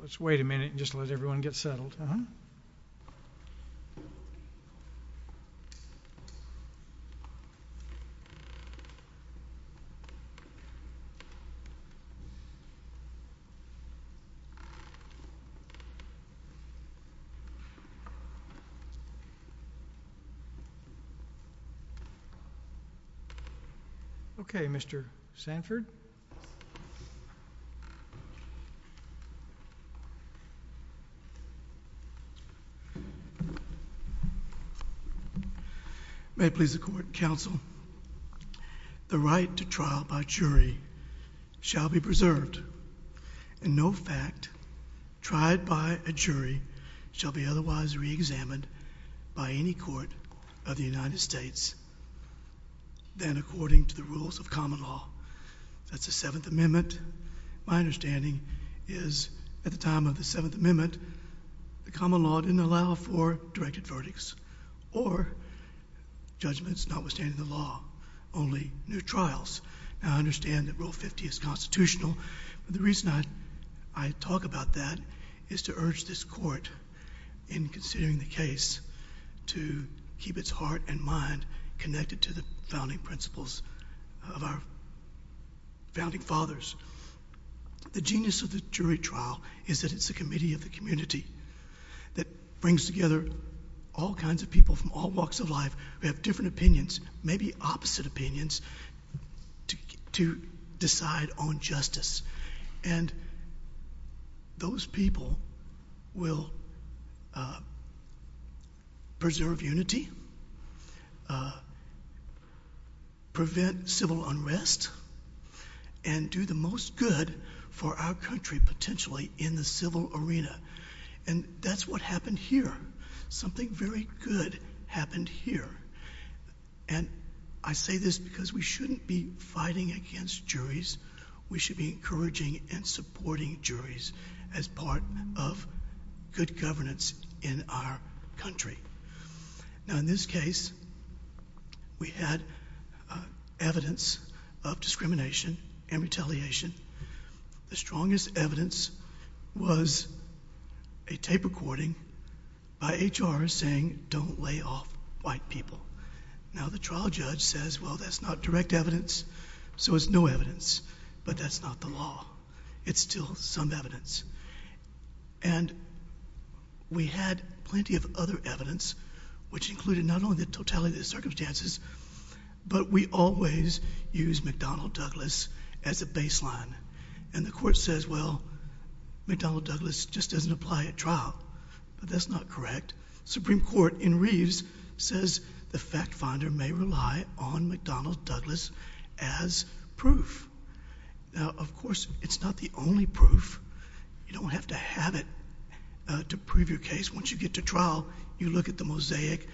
Let's wait a minute and just let everyone get settled. Okay, Mr. Sanford. May it please the Court, Counsel, the right to trial by jury shall be preserved and no fact tried by a jury shall be otherwise reexamined by any court of the United States than according to the rules of common law. That's the Seventh Amendment. My understanding is at the time of the Seventh Amendment, the common law didn't allow for directed verdicts or judgments notwithstanding the law, only new trials. Now, I understand that Rule 50 is constitutional, but the reason I talk about that is to urge this Court in considering the case to keep its heart and mind connected to the founding principles of our founding fathers. The genius of the jury trial is that it's a committee of the community that brings together all kinds of people from all walks of life who have different opinions, maybe opposite opinions, to decide on justice. And those people will preserve unity, prevent civil unrest, and do the most good for our country potentially in the civil arena. And that's what happened here. Something very good happened here. And I say this because we shouldn't be fighting against juries. We should be encouraging and supporting juries as part of good governance in our country. Now, in this case, we had evidence of discrimination and retaliation. The strongest evidence was a tape recording by HR saying, don't lay off white people. Now, the trial judge says, well, that's not direct evidence, so it's no evidence. But that's not the law. It's still some evidence. And we had plenty of other evidence, which included not only the totality of the circumstances, but we always use McDonnell Douglas as a baseline. And the court says, well, McDonnell Douglas just doesn't apply at trial. But that's not correct. Supreme Court in Reeves says the fact finder may rely on McDonnell Douglas as proof. Now, of course, it's not the only proof. You don't have to have it to prove your case. Once you get to trial, you look at the mosaic,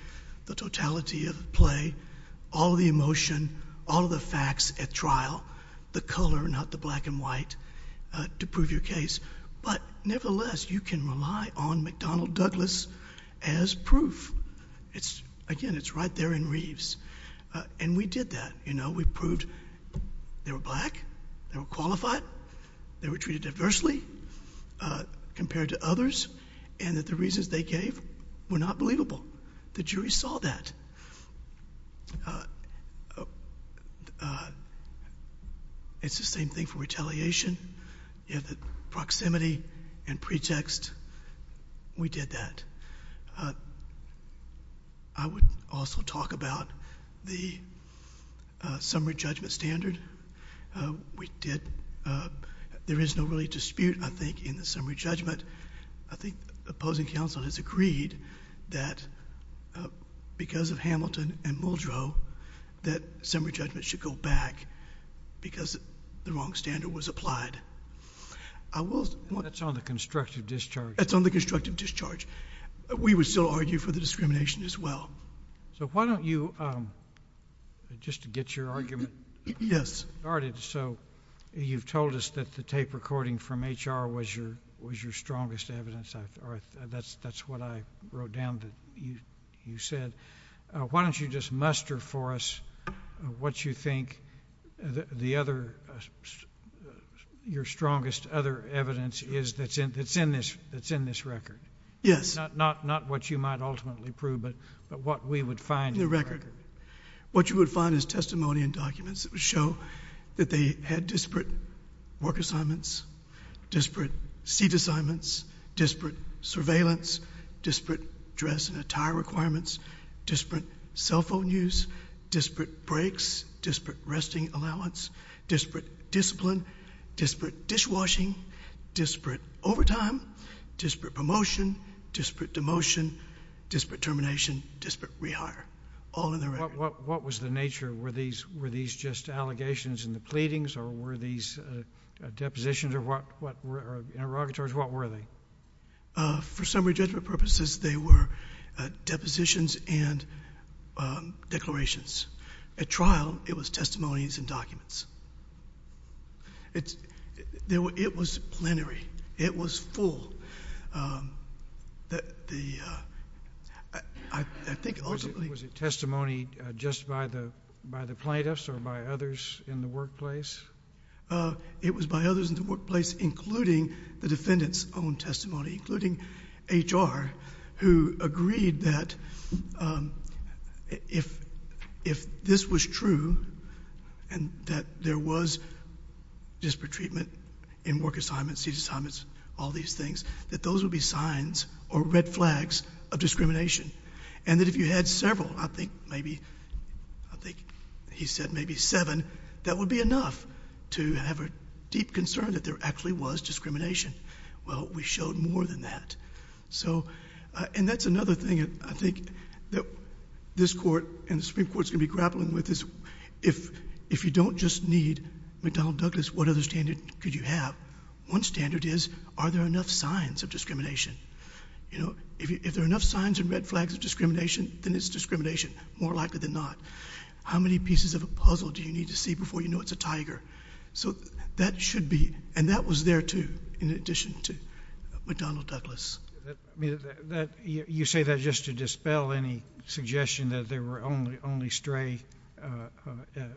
the totality of the play, all of the emotion, all of the facts at trial, the color, not the black and white, to prove your case. But nevertheless, you can rely on McDonnell Douglas as proof. Again, it's right there in Reeves. And we did that. You know, we proved they were black, they were qualified, they were treated adversely compared to others, and that the reasons they gave were not believable. The jury saw that. It's the same thing for retaliation. You have the proximity and pretext. We did that. I would also talk about the summary judgment standard. We did. There is no really dispute, I think, in the summary judgment. I think the opposing counsel has agreed that because of Hamilton and Muldrow, that summary judgment should go back because the wrong standard was applied. I will... That's on the constructive discharge. That's on the constructive discharge. We would still argue for the discrimination as well. So why don't you, just to get your argument started, so... You've told us that the tape recording from HR was your strongest evidence. That's what I wrote down that you said. Why don't you just muster for us what you think the other... your strongest other evidence is that's in this record? Yes. Not what you might ultimately prove, but what we would find in the record. What you would find is testimony and documents that would show that they had disparate work assignments, disparate seat assignments, disparate surveillance, disparate dress and attire requirements, disparate cell phone use, disparate breaks, disparate resting allowance, disparate discipline, disparate dishwashing, disparate overtime, disparate promotion, disparate demotion, disparate termination, disparate rehire. All in the record. What was the nature? Were these just allegations in the pleadings or were these depositions or interrogatories? What were they? For summary judgment purposes, they were depositions and declarations. At trial, it was testimonies and documents. It was plenary. It was full. Was it testimony just by the plaintiffs or by others in the workplace? It was by others in the workplace, including the defendant's own testimony, including HR, who agreed that if this was true and that there was disparate treatment in work assignments, seat assignments, all these things, that those would be signs or red flags of discrimination. And that if you had several, I think maybe, I think he said maybe seven, that would be enough to have a deep concern that there actually was discrimination. Well, we showed more than that. So and that's another thing I think that this court and the Supreme Court is going to be grappling with is if you don't just need McDonnell Douglas, what other standard could you have? One standard is are there enough signs of discrimination? You know, if there are enough signs and red flags of discrimination, then it's discrimination. More likely than not. How many pieces of a puzzle do you need to see before you know it's a tiger? So that should be, and that was there, too, in addition to McDonnell Douglas. I mean, you say that just to dispel any suggestion that there were only stray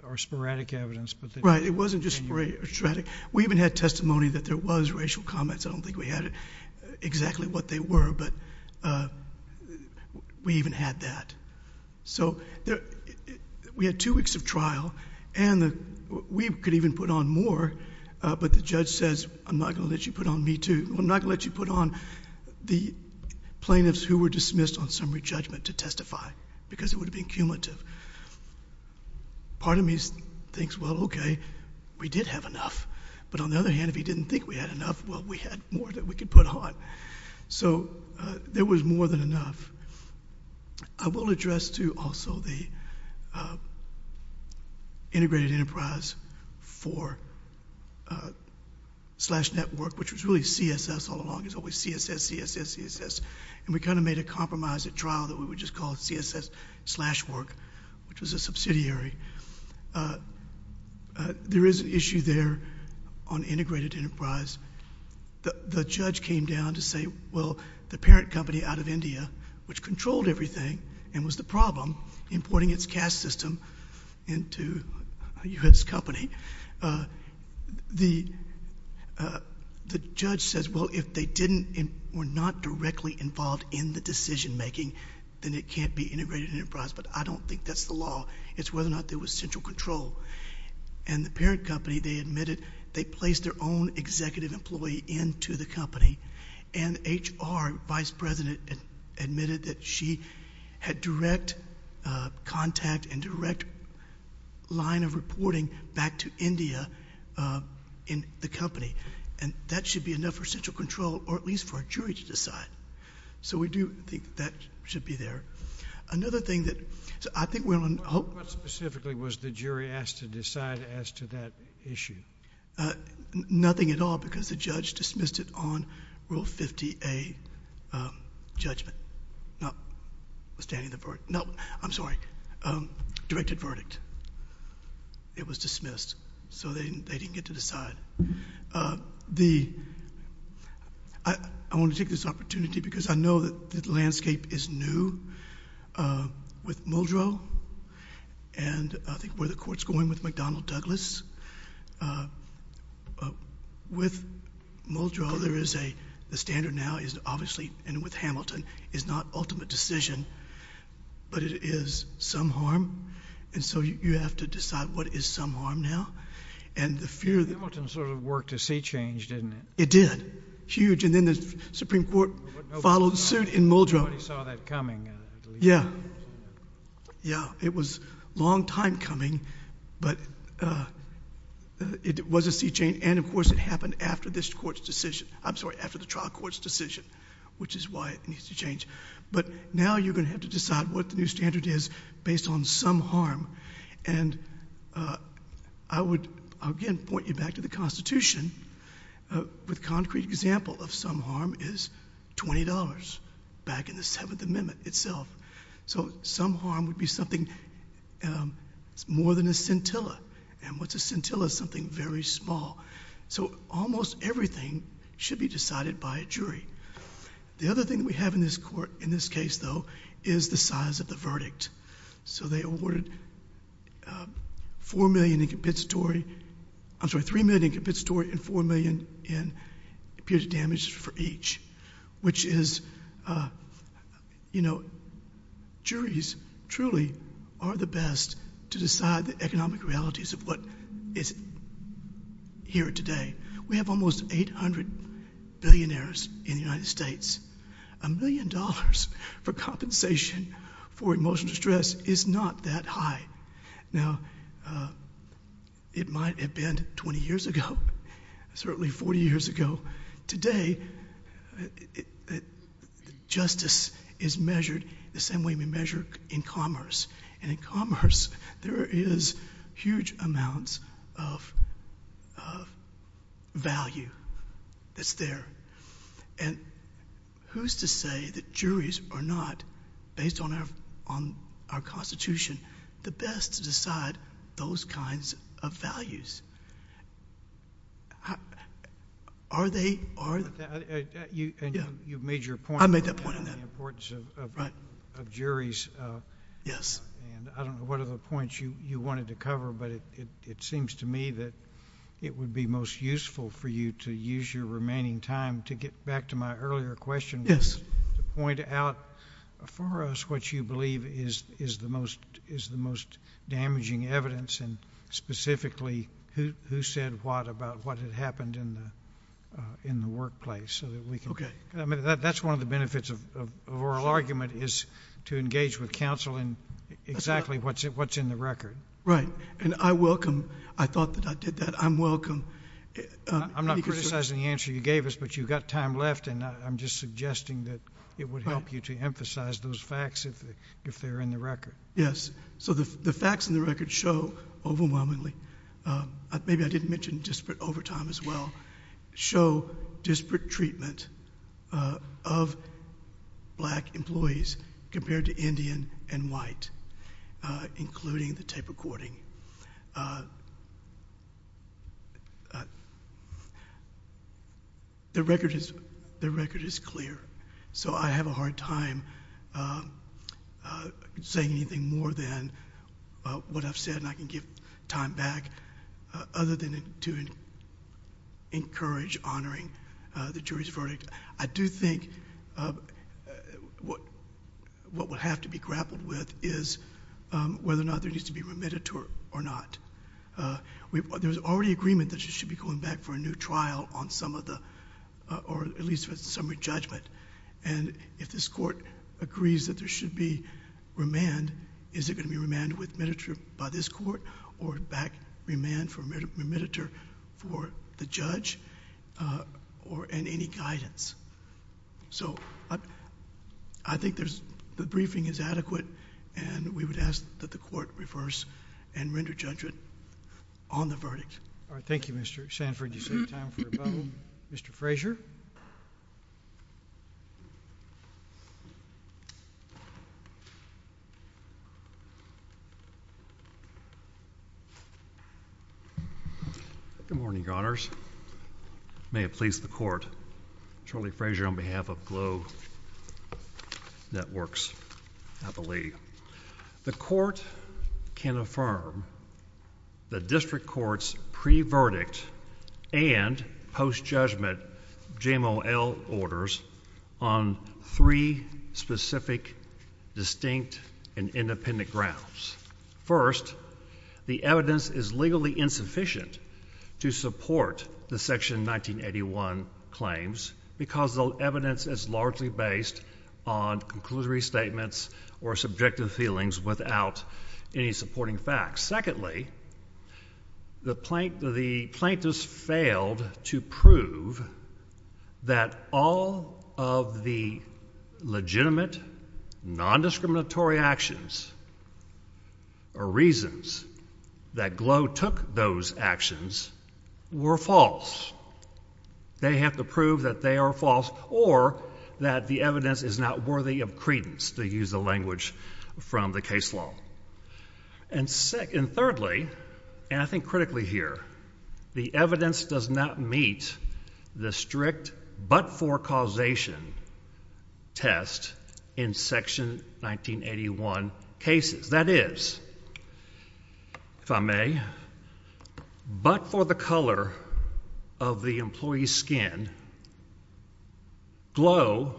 or sporadic evidence, but that you can use. Right. It wasn't just stray or sporadic. We even had testimony that there was racial comments. I don't think we had exactly what they were, but we even had that. So we had two weeks of trial, and we could even put on more, but the judge says, I'm not going to let you put on me, too. I'm not going to let you put on the plaintiffs who were dismissed on summary judgment to testify because it would have been cumulative. Part of me thinks, well, okay, we did have enough, but on the other hand, if he didn't think we had enough, well, we had more that we could put on. So there was more than enough. I will address, too, also the integrated enterprise for slash network, which was really CSS all along. It was always CSS, CSS, CSS, and we kind of made a compromise at trial that we would just call CSS slash work, which was a subsidiary. There is an issue there on integrated enterprise. The judge came down to say, well, the parent company out of India, which controlled everything and was the problem, importing its cash system into a U.S. company, the judge says, well, if they were not directly involved in the decision-making, then it can't be integrated enterprise. But I don't think that's the law. It's whether or not there was central control. And the parent company, they admitted they placed their own executive employee into the company, and HR, vice president, admitted that she had direct contact and direct line of reporting back to India in the company. And that should be enough for central control, or at least for a jury to decide. So we do think that should be there. Another thing that I think we're going to hope... What specifically was the jury asked to decide as to that issue? Nothing at all, because the judge dismissed it on Rule 50A judgment, notwithstanding the verdict. No, I'm sorry, directed verdict. It was dismissed. So they didn't get to decide. I want to take this opportunity, because I know that the landscape is new with Muldrow, and I think where the court's going with McDonnell Douglas. With Muldrow, there is a standard now, obviously, and with Hamilton, is not ultimate decision, but it is some harm. And so you have to decide what is some harm now. And the fear... Hamilton sort of worked a sea change, didn't it? It did. Huge. And then the Supreme Court followed suit in Muldrow. Nobody saw that coming, I believe. Yeah. Yeah. It was a long time coming, but it was a sea change, and of course it happened after this court's decision. I'm sorry, after the trial court's decision, which is why it needs to change. But now you're going to have to decide what the new standard is based on some harm. And I would, again, point you back to the Constitution with concrete example of some harm is $20 back in the Seventh Amendment itself. So some harm would be something more than a scintilla, and what's a scintilla is something very small. So almost everything should be decided by a jury. The other thing that we have in this case, though, is the size of the verdict. So they awarded $3 million in compensatory and $4 million in period of damage for each, which is... you know, juries truly are the best to decide the economic realities of what is here today. We have almost 800 billionaires in the United States. A million dollars for compensation for emotional distress is not that high. Now, it might have been 20 years ago, certainly 40 years ago. Today, justice is measured the same way we measure in commerce, and in commerce there is huge amounts of value that's there. And who's to say that juries are not, based on our Constitution, the best to decide those kinds of values? Are they? Are... And you've made your point. I made that point. On the importance of juries. Yes. And I don't know what other points you wanted to cover, but it seems to me that it would be most useful for you to use your remaining time to get back to my earlier question...... to point out for us what you believe is the most damaging evidence, and specifically who said what about what had happened in the workplace, so that we can... Okay. That's one of the benefits of oral argument, is to engage with counsel in exactly what's in the record. Right. And I welcome... I thought that I did that. I'm welcome... I'm not criticizing the answer you gave us, but you've got time left, and I'm just suggesting that it would help you to emphasize those facts if they're in the record. Yes. So the facts in the record show overwhelmingly... maybe I didn't mention disparate overtime as well... show disparate treatment of black employees compared to Indian and white, including the tape recording. The record is clear. So I have a hard time saying anything more than what I've said, and I can give time back other than to encourage honoring the jury's verdict. I do think what would have to be grappled with is whether or not there needs to be remediatory or not. There was already agreement that she should be going back for a new trial on some of the, or at least for summary judgment, and if this court agrees that there should be remand, is it going to be remanded with remediatory by this court, or back remand for remediatory for the judge, and any guidance? So I think there's... the briefing is adequate, and we would ask that the Court reverse and render judgment on the verdict. All right. Thank you, Mr. Sanford. Do you have time for a vote? Mr. Frazier? Good morning, Your Honors. May it please the Court, Shirley Frazier on behalf of Globe Networks, I believe. The Court can affirm the District Court's pre-verdict and post-judgment JMOL orders on three specific, distinct, and independent grounds. First, the evidence is legally insufficient to support the Section 1981 claims because the evidence is largely based on conclusory statements or subjective feelings without any supporting facts. Secondly, the plaintiffs failed to prove that all of the legitimate, nondiscriminatory actions or reasons that Globe took those actions were false. They have to prove that they are false or that the evidence is not worthy of credence, to use the language from the case law. And thirdly, and I think critically here, the evidence does not meet the strict but-for-causation test in Section 1981 cases. That is, if I may, but for the color of the employee's skin, Globe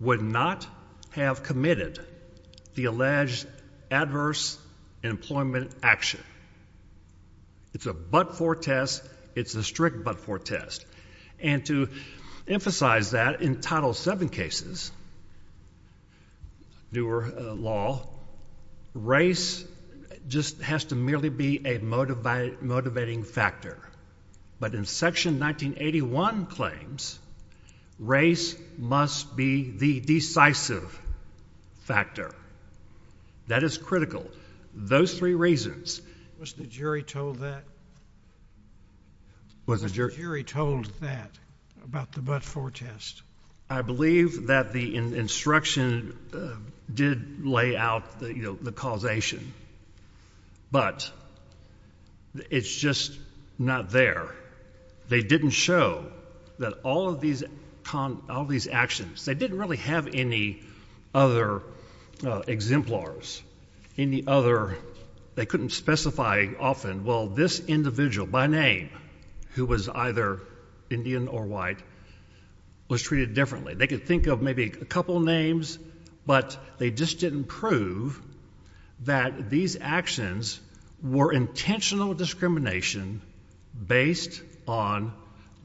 would not have committed the alleged adverse employment action. It's a but-for test. It's a strict but-for test. And to emphasize that, in Title VII cases, newer law, race just has to merely be a motivating factor. But in Section 1981 claims, race must be the decisive factor. That is critical. Those three reasons. Was the jury told that? Was the jury told that, about the but-for test? I believe that the instruction did lay out the causation, but it's just not there. They didn't show that all of these actions, they didn't really have any other exemplars, any other, they couldn't specify often, well, this individual, by name, who was either Indian or white, was treated differently. They could think of maybe a couple names, but they just didn't prove that these actions were intentional discrimination based on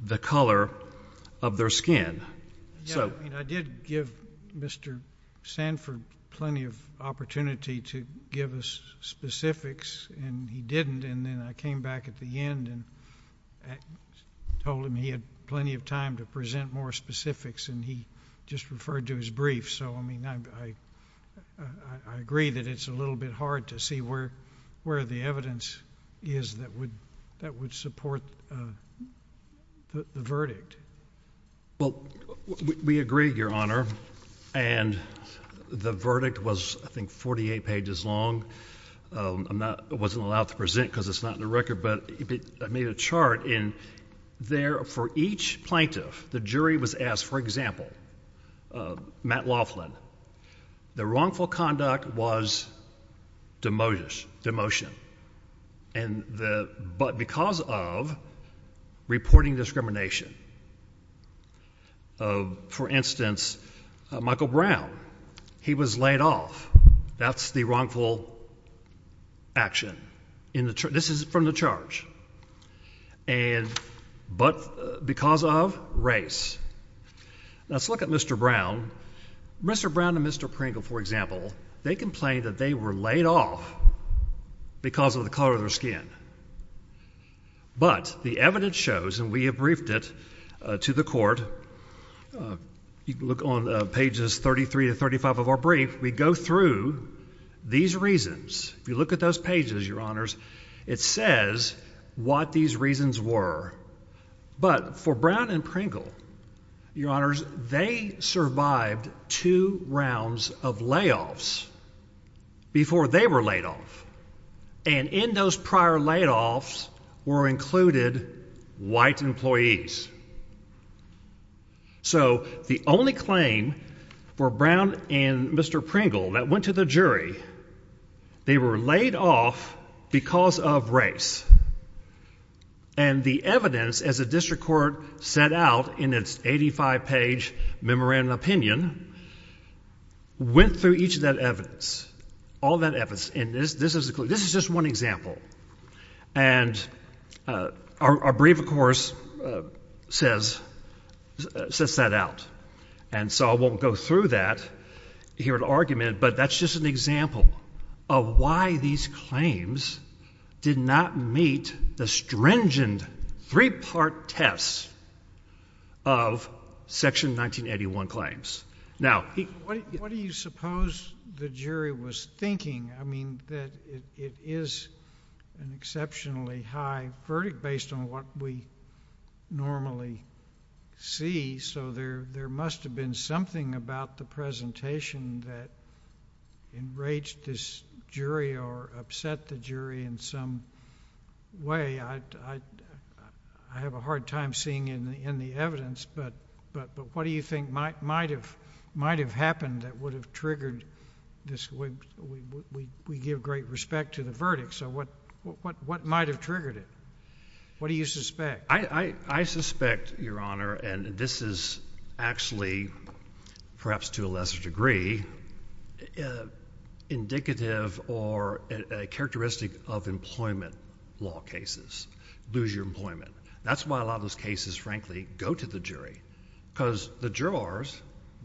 the color of their skin. I did give Mr. Sanford plenty of opportunity to give us specifics, and he didn't, and then I came back at the end and told him he had plenty of time to present more specifics, and he just referred to his brief. So I mean, I agree that it's a little bit hard to see where the evidence is that would support the verdict. Well, we agree, Your Honor, and the verdict was, I think, 48 pages long. I'm not, I wasn't allowed to present because it's not in the record, but I made a chart, and there, for each plaintiff, the jury was asked, for example, Matt Laughlin, the wrongful conduct was demotion, and the, but because of reporting discrimination. For instance, Michael Brown, he was laid off. That's the wrongful action in the, this is from the charge, and, but because of race. Let's look at Mr. Brown. Mr. Brown and Mr. Pringle, for example, they complained that they were laid off because of the color of their skin, but the evidence shows, and we have briefed it to the court, you can look on pages 33 to 35 of our brief, we go through these reasons. If you look at those pages, Your Honors, it says what these reasons were, but for Brown and Pringle, Your Honors, they survived two rounds of layoffs before they were laid off, and in those prior layoffs were included white employees. So the only claim for Brown and Mr. Pringle that went to the jury, they were laid off because of race, and the evidence, as the district court set out in its 85-page memorandum of opinion, went through each of that evidence, all that evidence, and this is just one example. And our brief, of course, says, sets that out, and so I won't go through that here in argument, but that's just an example of why these claims did not meet the stringent three-part test of Section 1981 claims. Now, what do you suppose the jury was thinking? I mean, that it is an exceptionally high verdict based on what we normally see, so there must have been something about the presentation that enraged this jury or upset the jury in some way. I don't know. I have a hard time seeing in the evidence, but what do you think might have happened that would have triggered this? We give great respect to the verdict, so what might have triggered it? What do you suspect? I suspect, Your Honor, and this is actually, perhaps to a lesser degree, indicative or characteristic of employment law cases, lose your employment. That's why a lot of those cases, frankly, go to the jury, because the jurors,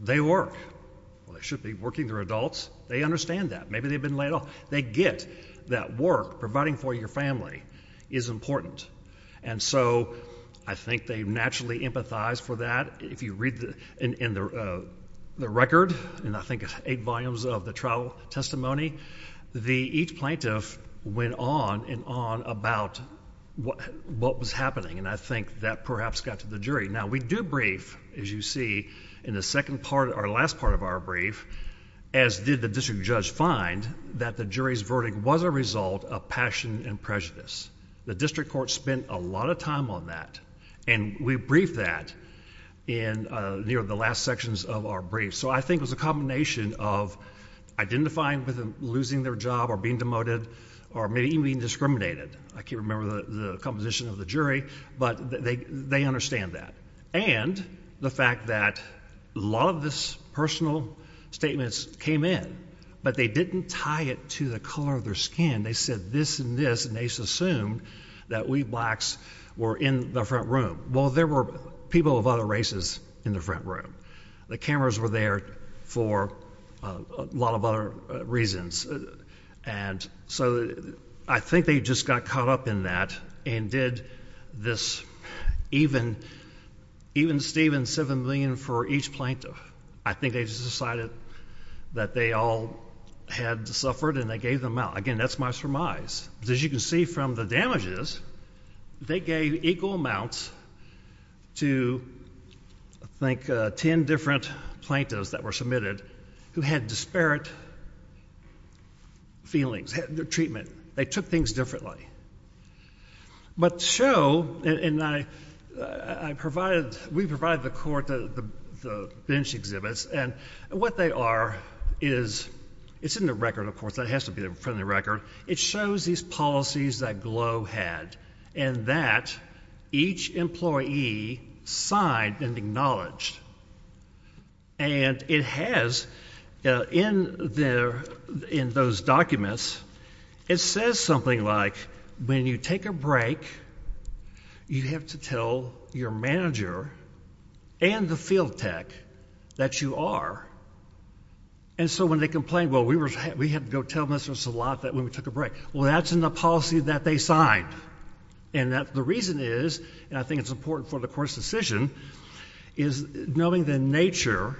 they work. They should be working their adults. They understand that. Maybe they've been laid off. They get that work providing for your family is important, and so I think they naturally empathize for that. If you read in the record, and I think eight volumes of the trial testimony, each plaintiff went on and on about what was happening, and I think that perhaps got to the jury. Now, we do brief, as you see, in the second part or last part of our brief, as did the district judge find, that the jury's verdict was a result of passion and prejudice. The district court spent a lot of time on that, and we briefed that in the last sections of our brief, so I think it was a combination of identifying with losing their job or being demoted or maybe even being discriminated. I can't remember the composition of the jury, but they understand that, and the fact that a lot of this personal statements came in, but they didn't tie it to the color of their skin. They said this and this, and they assumed that we blacks were in the front room. Well, there were people of other races in the front room. The cameras were there for a lot of other reasons, and so I think they just got caught up in that and did this. Even Stephen, seven million for each plaintiff, I think they just decided that they all had suffered, and they gave them out. Again, that's my surmise. As you can see from the damages, they gave equal amounts to, I think, 10 different plaintiffs that were submitted who had disparate feelings, their treatment. They took things differently. But show, and I provided, we provided the court the bench exhibits, and what they are is, it's in the record, of course. That has to be in front of the record. It shows these policies that Glow had, and that each employee signed and acknowledged, and it has, in those documents, it says something like, when you take a break, you have to tell your manager and the field tech that you are. And so when they complained, well, we had to go tell Mr. Salat that when we took a break. Well, that's in the policy that they signed, and the reason is, and I think it's important for the court's decision, is knowing the nature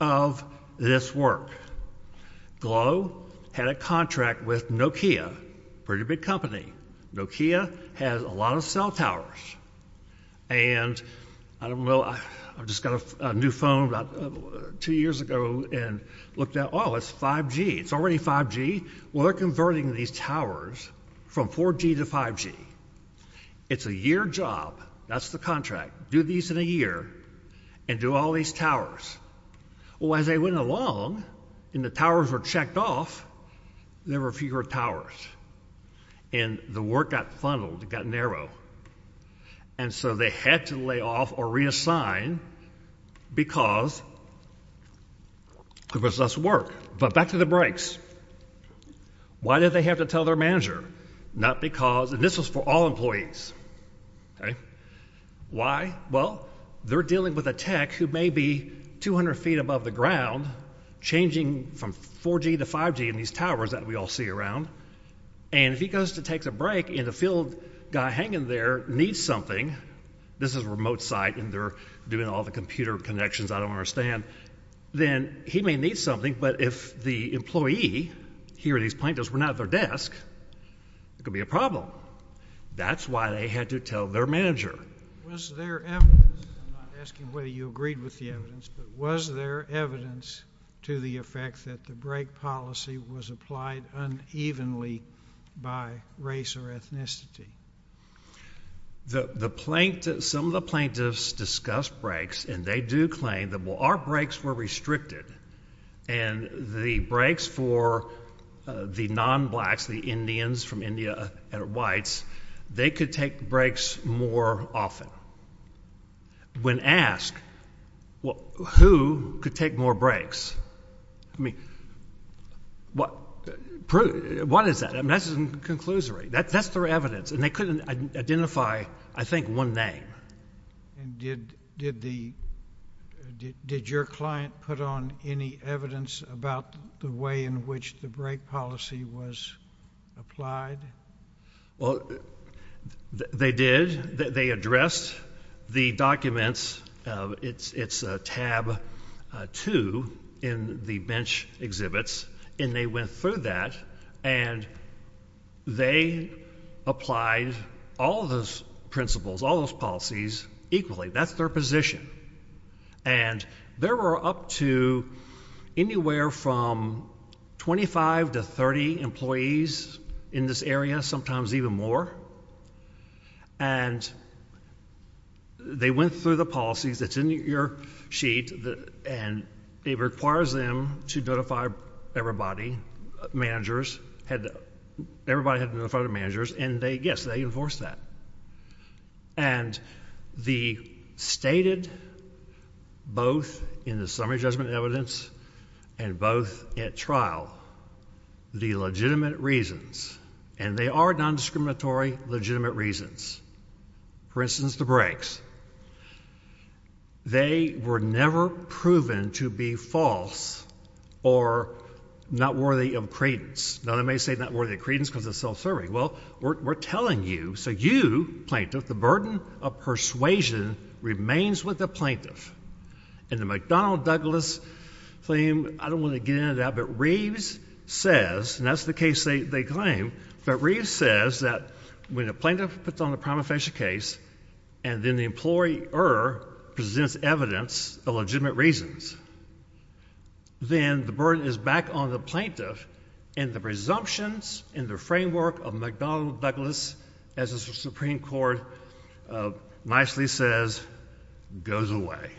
of this work. Glow had a contract with Nokia, pretty big company. Nokia has a lot of cell towers, and I don't know, I just got a new phone about two years ago and looked at, oh, it's 5G. It's already 5G. Well, they're converting these towers from 4G to 5G. It's a year job. That's the contract. Do these in a year, and do all these towers. Well, as they went along, and the towers were checked off, there were fewer towers, and the work got funneled, it got narrow, and so they had to lay off or reassign because there was less work. But back to the breaks. Why did they have to tell their manager? Not because, and this was for all employees. Why? Well, they're dealing with a tech who may be 200 feet above the ground, changing from 4G to 5G in these towers that we all see around, and if he goes to take a break and the field guy hanging there needs something, this is a remote site and they're doing all the computer connections I don't understand, then he may need something, but if the employee here, these plaintiffs, were not at their desk, it could be a problem. That's why they had to tell their manager. Was there evidence, I'm not asking whether you agreed with the evidence, but was there evidence to the effect that the break policy was applied unevenly by race or ethnicity? The plaintiff, some of the plaintiffs discuss breaks, and they do claim that our breaks were restricted, and the breaks for the non-blacks, the Indians from India that are whites, they could take breaks more often. When asked, who could take more breaks? I mean, what is that? I mean, that's a conclusory. That's their evidence, and they couldn't identify, I think, one name. And did your client put on any evidence about the way in which the break policy was applied? Well, they did. They addressed the documents. It's tab two in the bench exhibits, and they went through that, and they applied all of those principles, all those policies equally. That's their position, and there were up to anywhere from 25 to 30 employees in this area, sometimes even more, and they went through the policies. It's in your sheet, and it requires them to notify everybody, managers, everybody had to notify the managers, and yes, they enforced that. And they stated both in the summary judgment evidence and both at trial the legitimate reasons, and they are non-discriminatory legitimate reasons. For instance, the breaks. They were never proven to be false or not worthy of credence. Now, they may say not worthy of credence because it's self-serving. Well, we're telling you, so you, plaintiff, the burden of persuasion remains with the plaintiff. And the McDonnell Douglas claim, I don't want to get into that, but Reeves says, and that's the case they claim, but Reeves says that when a plaintiff puts on the prima facie case, and then the employer presents evidence of legitimate reasons, then the burden is back on the plaintiff, and the presumptions and the framework of McDonnell Douglas, as the Supreme Court nicely says, goes away.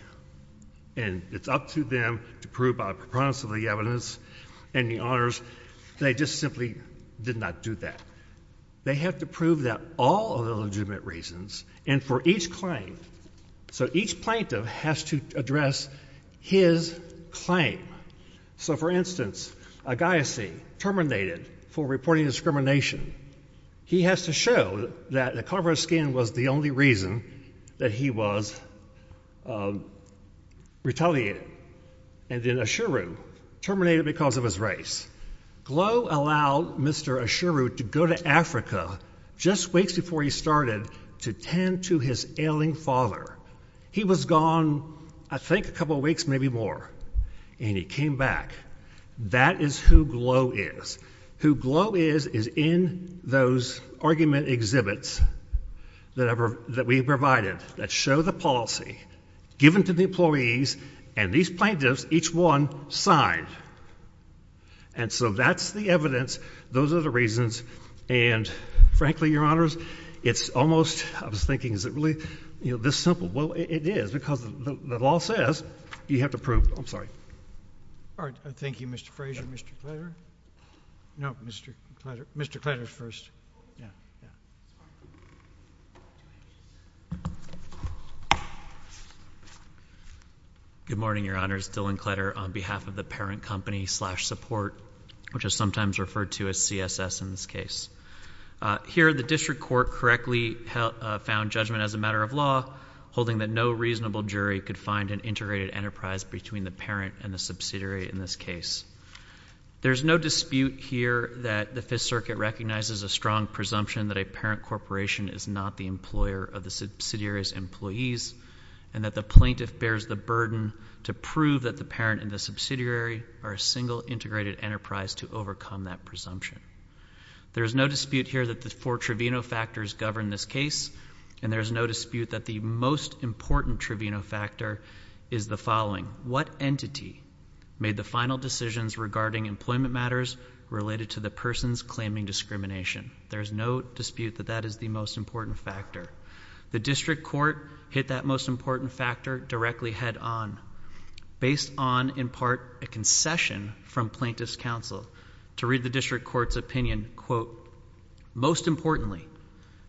And it's up to them to prove by preponderance of the evidence and the honors. They just simply did not do that. They have to prove that all of the legitimate reasons, and for each claim, so each plaintiff has to address his claim. So, for instance, Agassi terminated for reporting discrimination. He has to show that the cover of skin was the only reason that he was retaliated. And then Asheru terminated because of his race. Glow allowed Mr. Asheru to go to Africa just weeks before he started to tend to his ailing father. He was gone, I think, a couple of weeks, maybe more, and he came back. That is who Glow is. Who Glow is is in those argument exhibits that we provided that show the policy given to the employees, and these plaintiffs, each one, signed. And so that's the evidence. Those are the reasons. And, frankly, Your Honors, it's almost, I was thinking, is it really this simple? Well, it is, because the law says you have to prove. I'm sorry. All right. Thank you, Mr. Frazier. Mr. Clatter. No, Mr. Clatter. Mr. Clatter first. Yeah. Good morning, Your Honors. Dylan Clatter on behalf of the parent company slash support, which is sometimes referred to as CSS in this case. Here, the district court correctly found judgment as a matter of law, holding that no reasonable jury could find an integrated enterprise between the parent and the subsidiary in this case. There's no dispute here that the Fifth Amendment presumption that a parent corporation is not the employer of the subsidiary's employees, and that the plaintiff bears the burden to prove that the parent and the subsidiary are a single integrated enterprise to overcome that presumption. There is no dispute here that the four trivino factors govern this case, and there is no dispute that the most important trivino factor is the following. What entity made the final decisions regarding employment matters related to the person's claiming discrimination? There is no dispute that that is the most important factor. The district court hit that most important factor directly head on, based on, in part, a concession from plaintiff's counsel to read the district court's opinion, quote, Most importantly,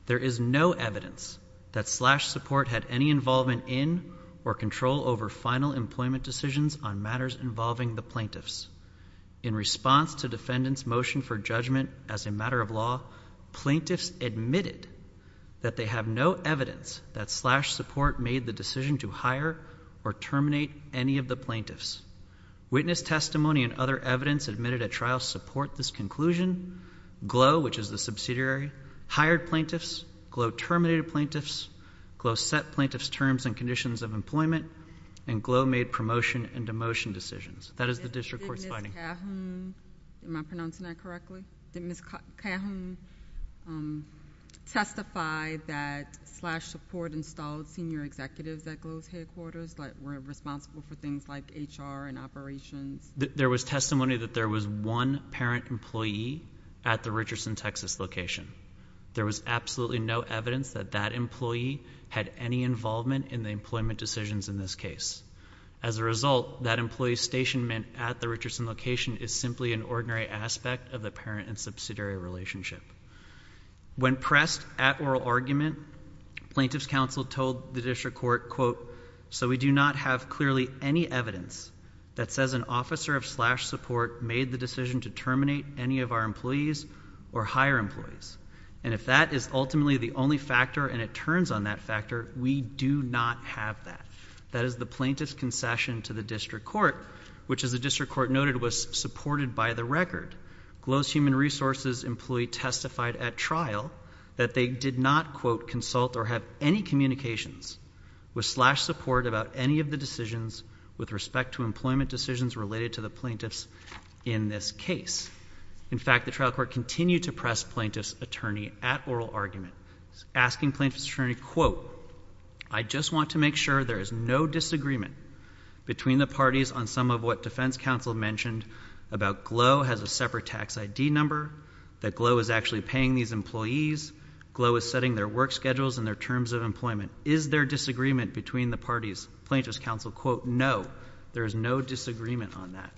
there is no evidence that slash support had any involvement in or control over final employment decisions on matters involving the plaintiffs. In response to defendant's motion for judgment as a matter of law, plaintiffs admitted that they have no evidence that slash support made the decision to hire or terminate any of the plaintiffs. Witness testimony and other evidence admitted at trial support this conclusion. Glow, which is the subsidiary, hired plaintiffs. Glow terminated plaintiffs. Glow set plaintiff's terms and conditions of employment. And Glow made promotion and demotion decisions. That is the district court's finding. Did Ms. Cahoon, am I pronouncing that correctly? Did Ms. Cahoon testify that slash support installed senior executives at Glow's headquarters that were responsible for things like HR and operations? There was testimony that there was one parent employee at the Richardson, Texas location. There was absolutely no evidence that that employee had any involvement in the employment decisions in this case. As a result, that employee's stationment at the Richardson location is simply an ordinary aspect of the parent and subsidiary relationship. When pressed at oral argument, plaintiff's counsel told the district court, quote, so we do not have clearly any evidence that says an officer of slash support made the decision to terminate any of our employees or hire employees. And if that is ultimately the only factor and it turns on that factor, we do not have that. That is the plaintiff's concession to the district court, which, as the district court noted, was supported by the record. Glow's human resources employee testified at trial that they did not, quote, consult or have any communications with slash support about any of the decisions with respect to employment decisions related to the plaintiffs in this case. In fact, the trial court continued to press plaintiff's attorney at oral argument, asking plaintiff's attorney, quote, I just want to make sure there is no disagreement between the parties on some of what defense counsel mentioned about Glow has a separate tax ID number, that Glow is actually paying these employees, Glow is setting their work schedules and their terms of employment. Is there disagreement between the parties? Plaintiff's counsel, quote, no, there is no disagreement on that.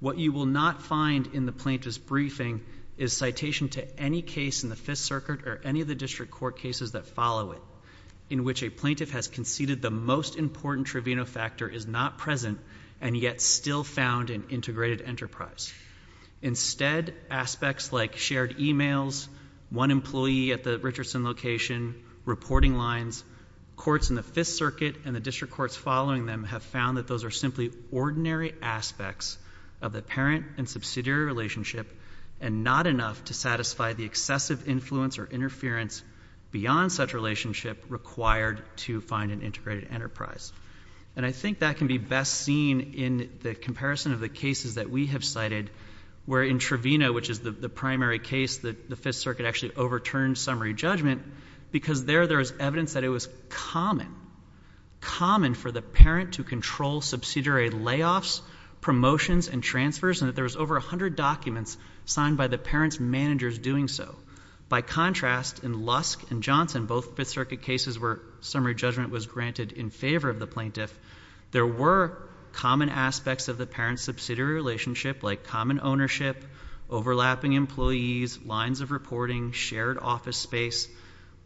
What you will not find in the plaintiff's briefing is citation to any case in the Fifth Circuit or any of the district court cases that follow it, in which a plaintiff has conceded the most important tribunal factor is not present and yet still found in integrated enterprise. Instead, aspects like shared emails, one employee at the Richardson location, reporting lines, courts in the Fifth Circuit and the district courts following them have found that those are simply ordinary aspects of the parent and subsidiary relationship and not enough to satisfy the excessive influence or interference beyond such relationship required to find an integrated enterprise. And I think that can be best seen in the comparison of the cases that we have cited where in Trevino, which is the primary case that the Fifth Circuit actually overturned summary judgment, because there, there is evidence that it was common, common for the parent to control subsidiary layoffs, promotions and transfers and that there was over 100 documents signed by the parent's managers doing so. By contrast, in Lusk and Johnson, both Fifth Circuit cases where summary judgment was granted in favor of the plaintiff, there were common aspects of the parent-subsidiary relationship like common ownership, overlapping employees, lines of reporting, shared office space,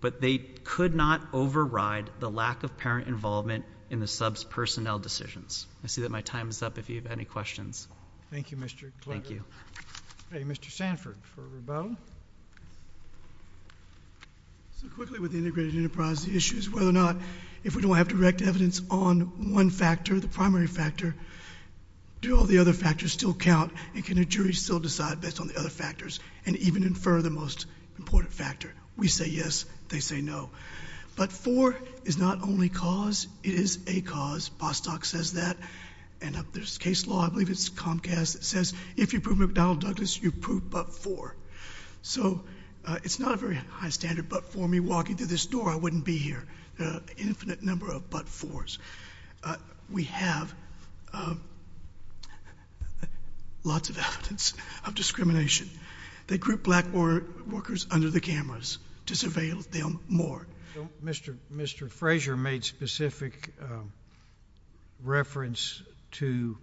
but they could not override the lack of parent involvement in the sub's personnel decisions. I see that my time is up if you have any questions. Thank you, Mr. Clegg. Thank you. Mr. Sanford for rebuttal. So quickly with the integrated enterprise, the issue is whether or not if we don't have direct evidence on one factor, the primary factor, do all the other factors still count and can a jury still decide based on the other factors and even infer the most important factor? We say yes, they say no. But for is not only cause, it is a cause. Bostock says that and there's a case law, I believe it's Comcast, that says if you prove McDonnell Douglas, you prove Butt IV. So it's not a very high standard, but for me walking through this door, I wouldn't be here. Infinite number of Butt IVs. We have lots of evidence of discrimination. They group black workers under the cameras to surveil them more. Mr. Frazier made specific reference to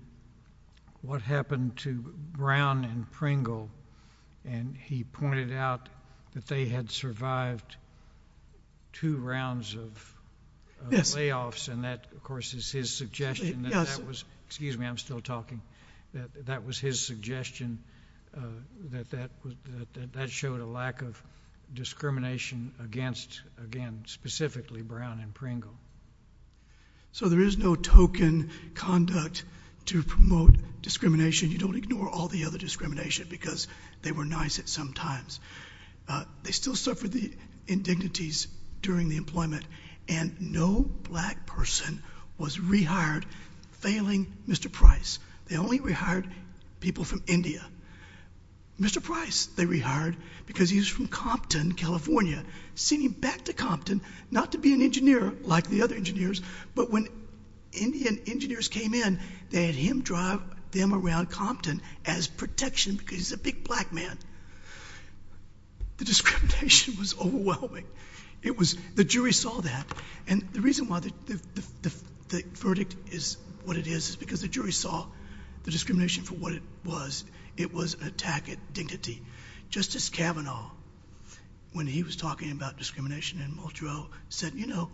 what happened to Brown and Pringle, and he pointed out that they had survived two rounds of layoffs, and that, of course, is his suggestion. Excuse me, I'm still talking. That was his suggestion that that showed a lack of discrimination against, again, specifically Brown and Pringle. So there is no token conduct to promote discrimination. You don't ignore all the other discrimination because they were nice at some times. They still suffered the indignities during the employment, and no black person was rehired, failing Mr. Price. They only rehired people from India. Mr. Price, they rehired because he was from Compton, California, sending him back to Compton not to be an engineer like the other engineers, but when Indian engineers came in, they had him drive them around Compton as protection because he's a big black man. The discrimination was overwhelming. The jury saw that, and the reason why the verdict is what it is is because the jury saw the discrimination for what it was. It was an attack at dignity. Justice Kavanaugh, when he was talking about discrimination in Montreux, said, you know,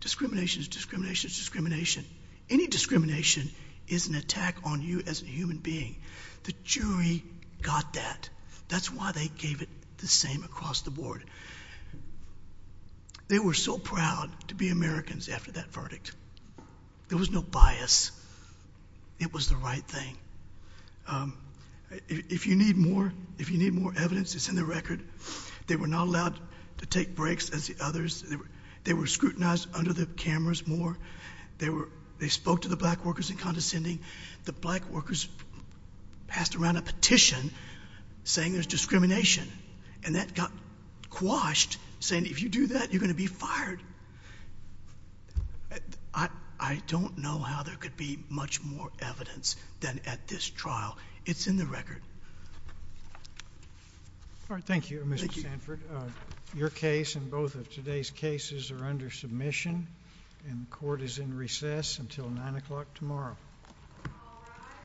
discrimination is discrimination is discrimination. Any discrimination is an attack on you as a human being. The jury got that. That's why they gave it the same across the board. They were so proud to be Americans after that verdict. There was no bias. It was the right thing. If you need more, if you need more evidence, it's in the record. They were not allowed to take breaks as the others. They were scrutinized under the cameras more. They spoke to the black workers in condescending. The black workers passed around a petition saying there's discrimination, and that got quashed, saying if you do that, you're going to be fired. I don't know how there could be much more evidence than at this trial. It's in the record. All right. Thank you, Mr. Sanford. Your case and both of today's cases are under submission, and the court is in recess until nine o'clock tomorrow.